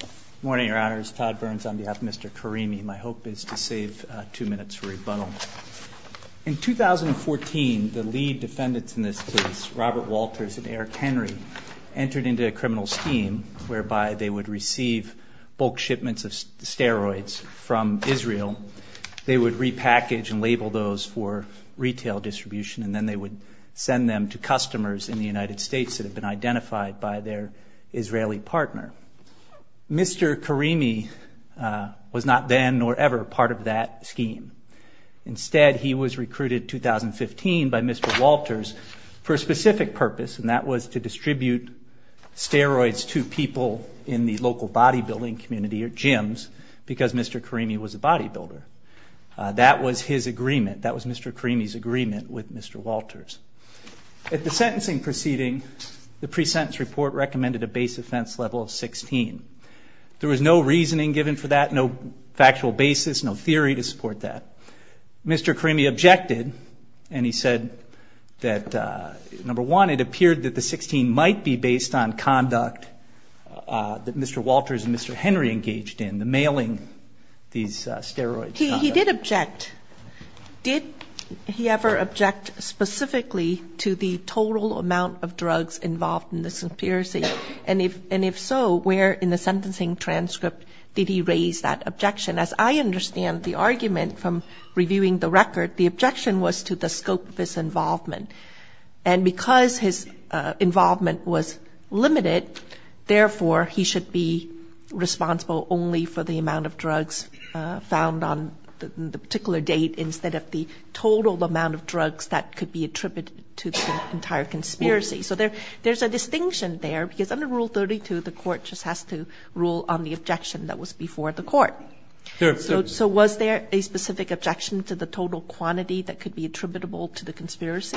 Good morning, Your Honors. Todd Burns on behalf of Mr. Karimi. My hope is to save two minutes for rebuttal. In 2014, the lead defendants in this case, Robert Walters and Eric Henry, entered into a criminal scheme whereby they would receive bulk shipments of steroids from Israel. They would repackage and label those for retail distribution, and then they would send them to customers in the United States that had been identified by their Israeli partner. Mr. Karimi was not then nor ever part of that scheme. Instead, he was recruited in 2015 by Mr. Walters for a specific purpose, and that was to distribute steroids to people in the local bodybuilding community or gyms because Mr. Karimi was a bodybuilder. That was his agreement. That was Mr. Karimi's agreement with Mr. Walters. At the sentencing proceeding, the pre-sentence report recommended a base offense level of 16. There was no reasoning given for that, no factual basis, no theory to support that. Mr. Karimi objected, and he said that, number one, it appeared that the 16 might be based on conduct that Mr. Walters and Mr. Henry engaged in, the mailing these steroids. He did object. Did he ever object specifically to the total amount of drugs involved in this conspiracy? And if so, where in the sentencing transcript did he raise that objection? As I understand the argument from reviewing the record, the objection was to the scope of his involvement. And because his involvement was limited, therefore, he should be responsible only for the amount of drugs found on the particular date instead of the total amount of drugs that could be attributed to the entire conspiracy. So there's a distinction there because under Rule 32, the court just has to rule on the objection that was before the court. So was there a specific objection to the total quantity that could be attributable to the conspiracy?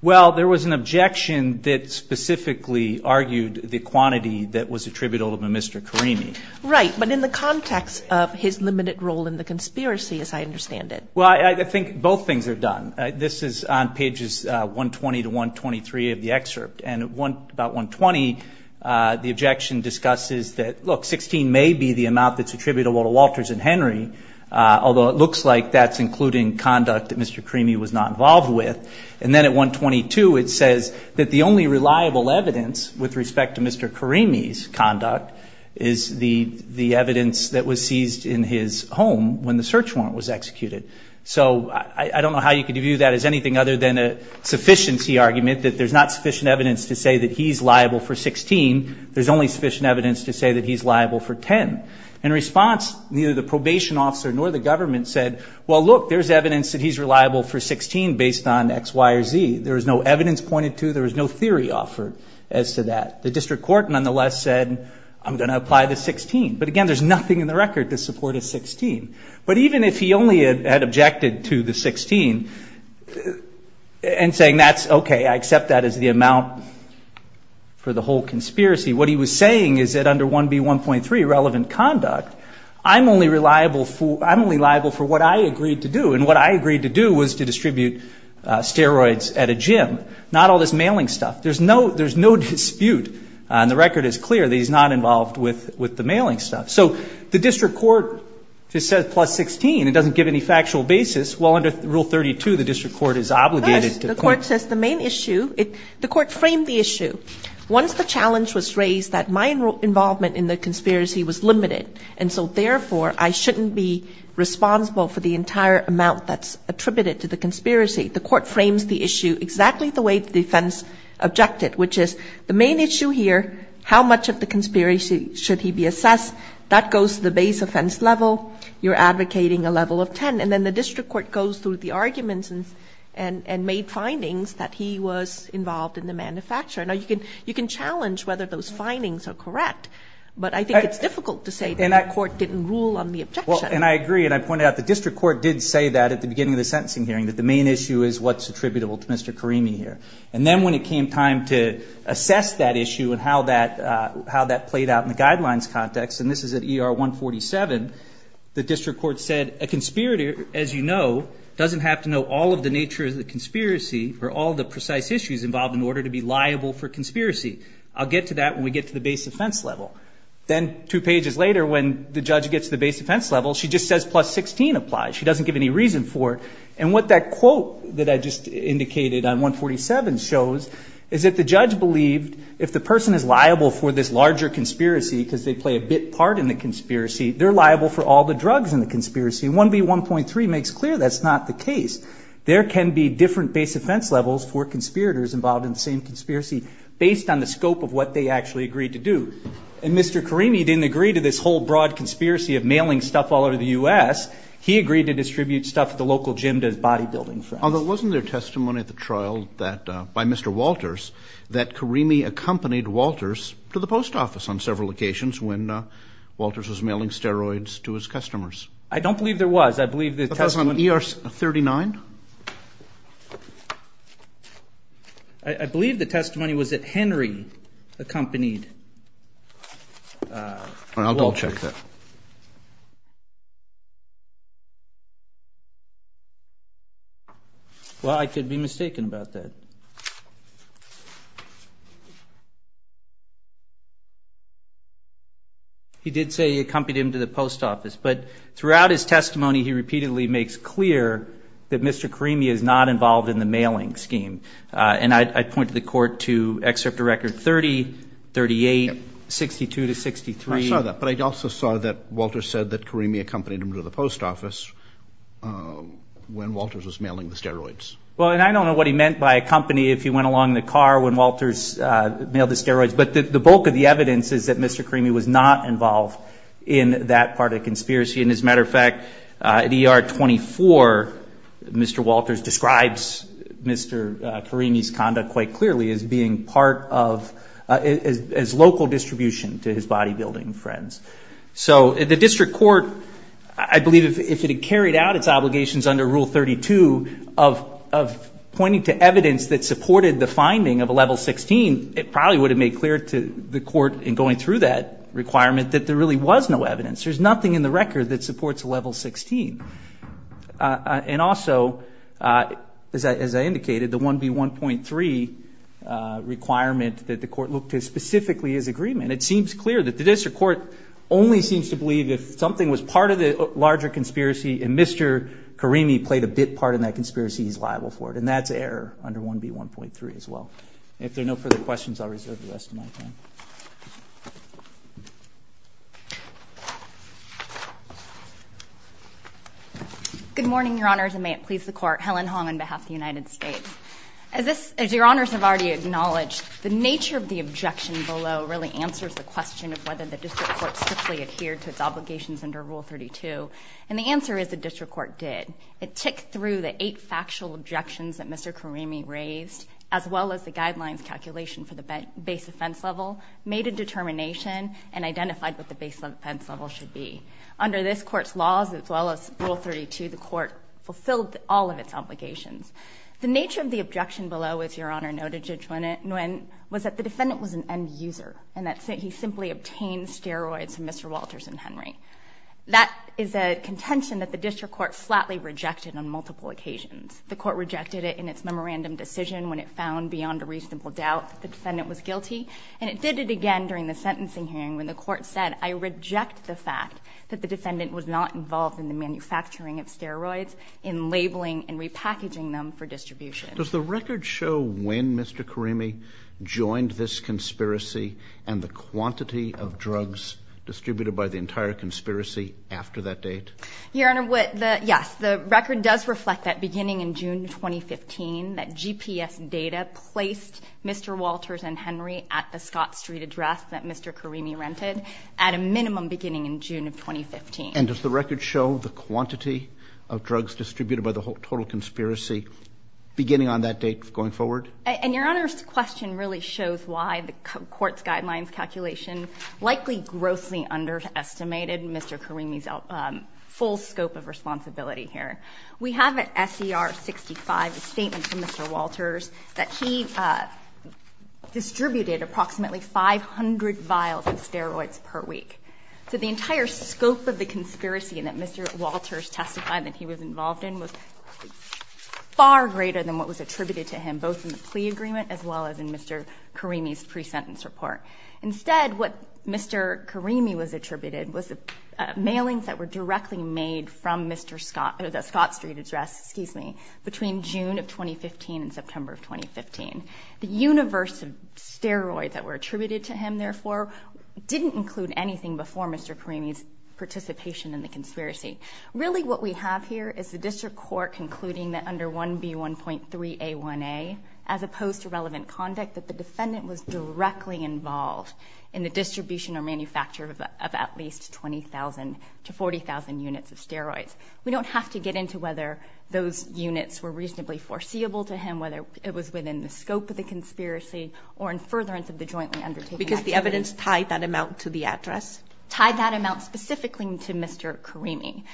Well, there was an objection that specifically argued the quantity that was attributable to Mr. Karimi. Right. But in the context of his limited role in the conspiracy, as I understand it. Well, I think both things are done. This is on pages 120 to 123 of the excerpt. And at about 120, the objection discusses that, look, 16 may be the amount that's attributable to Walters and Henry, although it looks like that's including conduct that Mr. Karimi was not involved with. And then at 122, it says that the only reliable evidence with respect to Mr. Karimi's conduct is the evidence that was seized in his home when the search warrant was executed. So I don't know how you could view that as anything other than a sufficiency argument, that there's not sufficient evidence to say that he's liable for 16, there's only sufficient evidence to say that he's liable for 10. In response, neither the probation officer nor the government said, well, look, there's evidence that he's reliable for 16 based on X, Y, or Z. There was no evidence pointed to, there was no theory offered as to that. The district court nonetheless said, I'm going to apply the 16. But again, there's nothing in the record to support a 16. But even if he only had objected to the 16 and saying, okay, I accept that as the amount for the whole conspiracy, what he was saying is that under 1B1.3, relevant conduct, I'm only liable for what I agreed to do. And what I agreed to do was to distribute steroids at a gym, not all this mailing stuff. There's no dispute, and the record is clear that he's not involved with the mailing stuff. So the district court just said plus 16. It doesn't give any factual basis. Well, under Rule 32, the district court is obligated to point. The court says the main issue, the court framed the issue. Once the challenge was raised that my involvement in the conspiracy was limited, and so therefore I shouldn't be responsible for the entire amount that's attributed to the conspiracy, the court frames the issue exactly the way the defense objected, which is the main issue here, how much of the conspiracy should he be assessed? That goes to the base offense level. You're advocating a level of 10. And then the district court goes through the arguments and made findings that he was involved in the manufacture. Now, you can challenge whether those findings are correct, but I think it's difficult to say that the court didn't rule on the objection. Well, and I agree, and I pointed out the district court did say that at the beginning of the sentencing hearing that the main issue is what's attributable to Mr. Karimi here. And then when it came time to assess that issue and how that played out in the guidelines context, and this is at ER 147, the district court said, a conspirator, as you know, doesn't have to know all of the nature of the conspiracy or all of the precise issues involved in order to be liable for conspiracy. I'll get to that when we get to the base offense level. Then two pages later, when the judge gets to the base offense level, she just says plus 16 applies. She doesn't give any reason for it. And what that quote that I just indicated on 147 shows is that the judge believed if the person is liable for this larger conspiracy because they play a bit part in the conspiracy, they're liable for all the drugs in the conspiracy. And 1B1.3 makes clear that's not the case. There can be different base offense levels for conspirators involved in the same conspiracy, based on the scope of what they actually agreed to do. And Mr. Karimi didn't agree to this whole broad conspiracy of mailing stuff all over the U.S. He agreed to distribute stuff at the local gym to his bodybuilding friends. Although wasn't there testimony at the trial by Mr. Walters that Karimi accompanied Walters to the post office on several occasions when Walters was mailing steroids to his customers? I don't believe there was. I believe the testimony was at Henry accompanied Walters. I'll double check that. Well, I could be mistaken about that. He did say he accompanied him to the post office. But throughout his testimony, he repeatedly makes clear that Mr. Karimi is not involved in the mailing scheme. And I point to the court to excerpt of record 30, 38, 62 to 63. I saw that. But I also saw that Walters said that Karimi accompanied him to the post office when Walters was mailing the steroids. Well, and I don't know what he meant by accompany if he went along in the car when Walters mailed the steroids. But the bulk of the evidence is that Mr. Karimi was not involved in that part of the conspiracy. And as a matter of fact, at ER 24, Mr. Walters describes Mr. Karimi's conduct quite clearly as being part of, as local distribution to his bodybuilding friends. So the district court, I believe if it had carried out its obligations under Rule 32 of pointing to evidence that supported the finding of a level 16, it probably would have made clear to the court in going through that requirement that there really was no evidence. There's nothing in the record that supports a level 16. And also, as I indicated, the 1B1.3 requirement that the court looked at specifically is agreement. It seems clear that the district court only seems to believe if something was part of the larger conspiracy and Mr. Karimi played a bit part in that conspiracy, he's liable for it. And that's error under 1B1.3 as well. So if there are no further questions, I'll reserve the rest of my time. Good morning, Your Honors, and may it please the Court. Helen Hong on behalf of the United States. As Your Honors have already acknowledged, the nature of the objection below really answers the question of whether the district court simply adhered to its obligations under Rule 32. And the answer is the district court did. It ticked through the eight factual objections that Mr. Karimi raised, as well as the guidelines calculation for the base offense level, made a determination, and identified what the base offense level should be. Under this Court's laws, as well as Rule 32, the Court fulfilled all of its obligations. The nature of the objection below, as Your Honor noted, Judge Nguyen, was that the defendant was an end user and that he simply obtained steroids from Mr. Walters and Henry. That is a contention that the district court flatly rejected on multiple occasions. The Court rejected it in its memorandum decision when it found, beyond a reasonable doubt, that the defendant was guilty. And it did it again during the sentencing hearing when the Court said, I reject the fact that the defendant was not involved in the manufacturing of steroids, in labeling and repackaging them for distribution. Does the record show when Mr. Karimi joined this conspiracy and the quantity of drugs distributed by the entire conspiracy after that date? Your Honor, yes. The record does reflect that beginning in June 2015, that GPS data placed Mr. Walters and Henry at the Scott Street address that Mr. Karimi rented at a minimum beginning in June of 2015. And does the record show the quantity of drugs distributed by the total conspiracy beginning on that date going forward? And Your Honor's question really shows why the Court's guidelines calculation likely grossly underestimated Mr. Karimi's full scope of responsibility here. We have at SCR 65 a statement from Mr. Walters that he distributed approximately 500 vials of steroids per week. So the entire scope of the conspiracy that Mr. Walters testified that he was involved in was far greater than what was attributed to him, both in the plea agreement as well as in Mr. Karimi's pre-sentence report. Instead, what Mr. Karimi was attributed was the mailings that were directly made from Mr. Scott or the Scott Street address, excuse me, between June of 2015 and September of 2015. The universe of steroids that were attributed to him, therefore, didn't include anything before Mr. Karimi's participation in the conspiracy. Really what we have here is the district court concluding that under 1B1.3A1A, as opposed to relevant conduct, that the defendant was directly involved in the distribution or manufacture of at least 20,000 to 40,000 units of steroids. We don't have to get into whether those units were reasonably foreseeable to him, whether it was within the scope of the conspiracy or in furtherance of the jointly undertaken activity. Because the evidence tied that amount to the address? Tied that amount specifically to Mr. Karimi.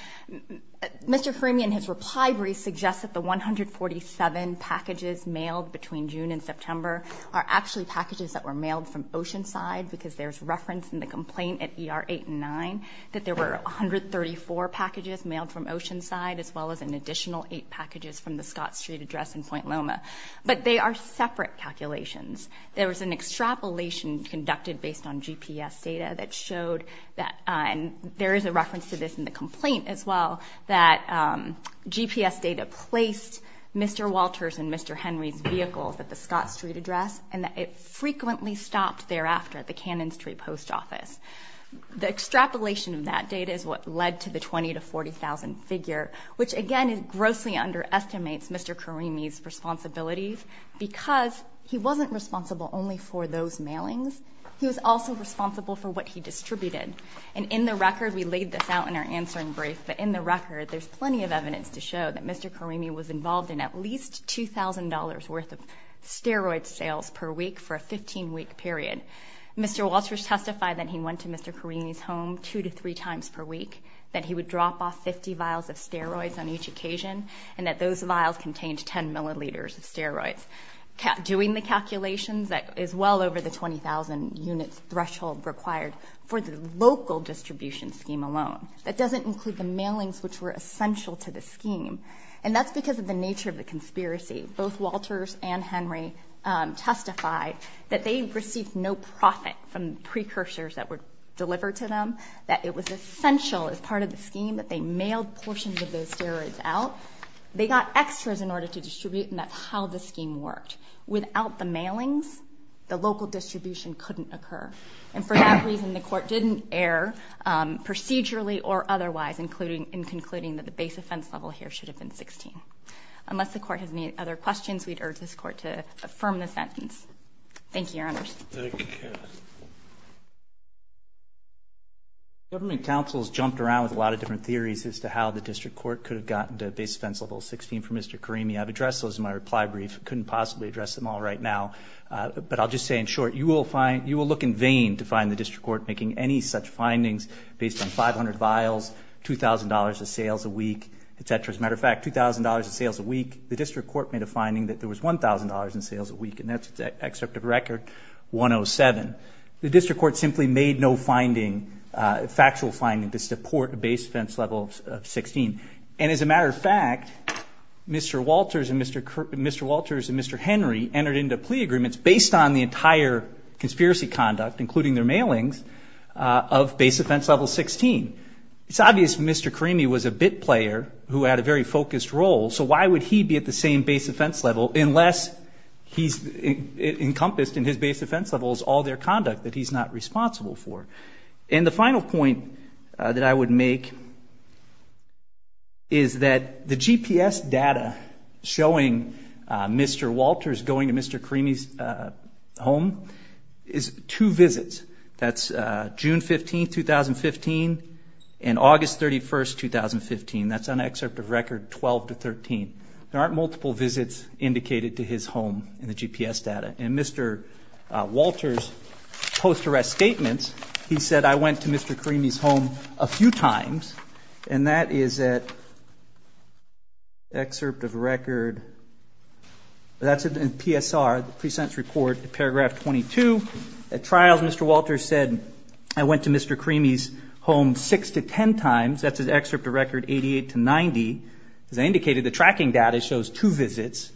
Mr. Karimi in his reply brief suggests that the 147 packages mailed between June and September are actually packages that were mailed from Oceanside, because there's reference in the complaint at ER 8 and 9 that there were 134 packages mailed from Oceanside as well as an additional eight packages from the Scott Street address in Point Loma. But they are separate calculations. There was an extrapolation conducted based on GPS data that showed that there is a reference to this in the complaint as well that GPS data placed Mr. Walters and Mr. Henry's vehicles at the Scott Street address and that it frequently stopped thereafter at the Cannon Street post office. The extrapolation of that data is what led to the 20,000 to 40,000 figure, which again grossly underestimates Mr. Karimi's responsibilities because he wasn't responsible only for those mailings. He was also responsible for what he distributed. And in the record, we laid this out in our answering brief, but in the record there's plenty of evidence to show that Mr. Karimi was involved in at least $2,000 worth of steroid sales per week for a 15-week period. Mr. Walters testified that he went to Mr. Karimi's home two to three times per week, that he would drop off 50 vials of steroids on each occasion, and that those vials contained 10 milliliters of steroids. Doing the calculations, that is well over the 20,000 unit threshold required for the local distribution scheme alone. That doesn't include the mailings, which were essential to the scheme. And that's because of the nature of the conspiracy. Both Walters and Henry testified that they received no profit from precursors that were delivered to them, that it was essential as part of the scheme that they mailed portions of those steroids out. They got extras in order to distribute, and that's how the scheme worked. Without the mailings, the local distribution couldn't occur. And for that reason, the Court didn't err procedurally or otherwise in concluding that the base offense level here should have been 16. Unless the Court has any other questions, we'd urge this Court to affirm the sentence. Thank you, Your Honors. Thank you, Kat. Thank you. Government counsels jumped around with a lot of different theories as to how the District Court could have gotten the base offense level 16 from Mr. Karimi. I've addressed those in my reply brief. I couldn't possibly address them all right now. But I'll just say in short, you will look in vain to find the District Court making any such findings based on 500 vials, $2,000 in sales a week, et cetera. As a matter of fact, $2,000 in sales a week, the District Court made a finding that there was $1,000 in sales a week, and that's an excerpt of Record 107. The District Court simply made no finding, factual finding to support a base offense level of 16. And as a matter of fact, Mr. Walters and Mr. Henry entered into plea agreements based on the entire conspiracy conduct, including their mailings, of base offense level 16. It's obvious Mr. Karimi was a bit player who had a very focused role, so why would he be at the same base offense level unless he's encompassed in his base offense levels all their conduct that he's not responsible for? And the final point that I would make is that the GPS data showing Mr. Walters going to Mr. Karimi's home is two visits. That's June 15, 2015 and August 31, 2015. That's an excerpt of Record 12 to 13. There aren't multiple visits indicated to his home in the GPS data. In Mr. Walters' post-arrest statements, he said, I went to Mr. Karimi's home a few times, and that is at excerpt of Record PSR, the pre-sentence report, paragraph 22. At trials, Mr. Walters said, I went to Mr. Karimi's home six to ten times. That's an excerpt of Record 88 to 90. As I indicated, the tracking data shows two visits.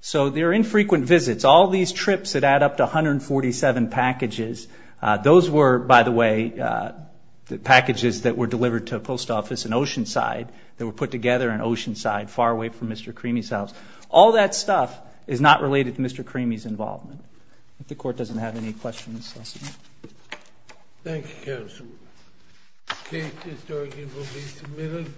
So there are infrequent visits. All these trips that add up to 147 packages, those were, by the way, the packages that were delivered to a post office in Oceanside that were put together in Oceanside, far away from Mr. Karimi's house. All that stuff is not related to Mr. Karimi's involvement. If the Court doesn't have any questions. Thank you, Counsel. The case is arguably submitted.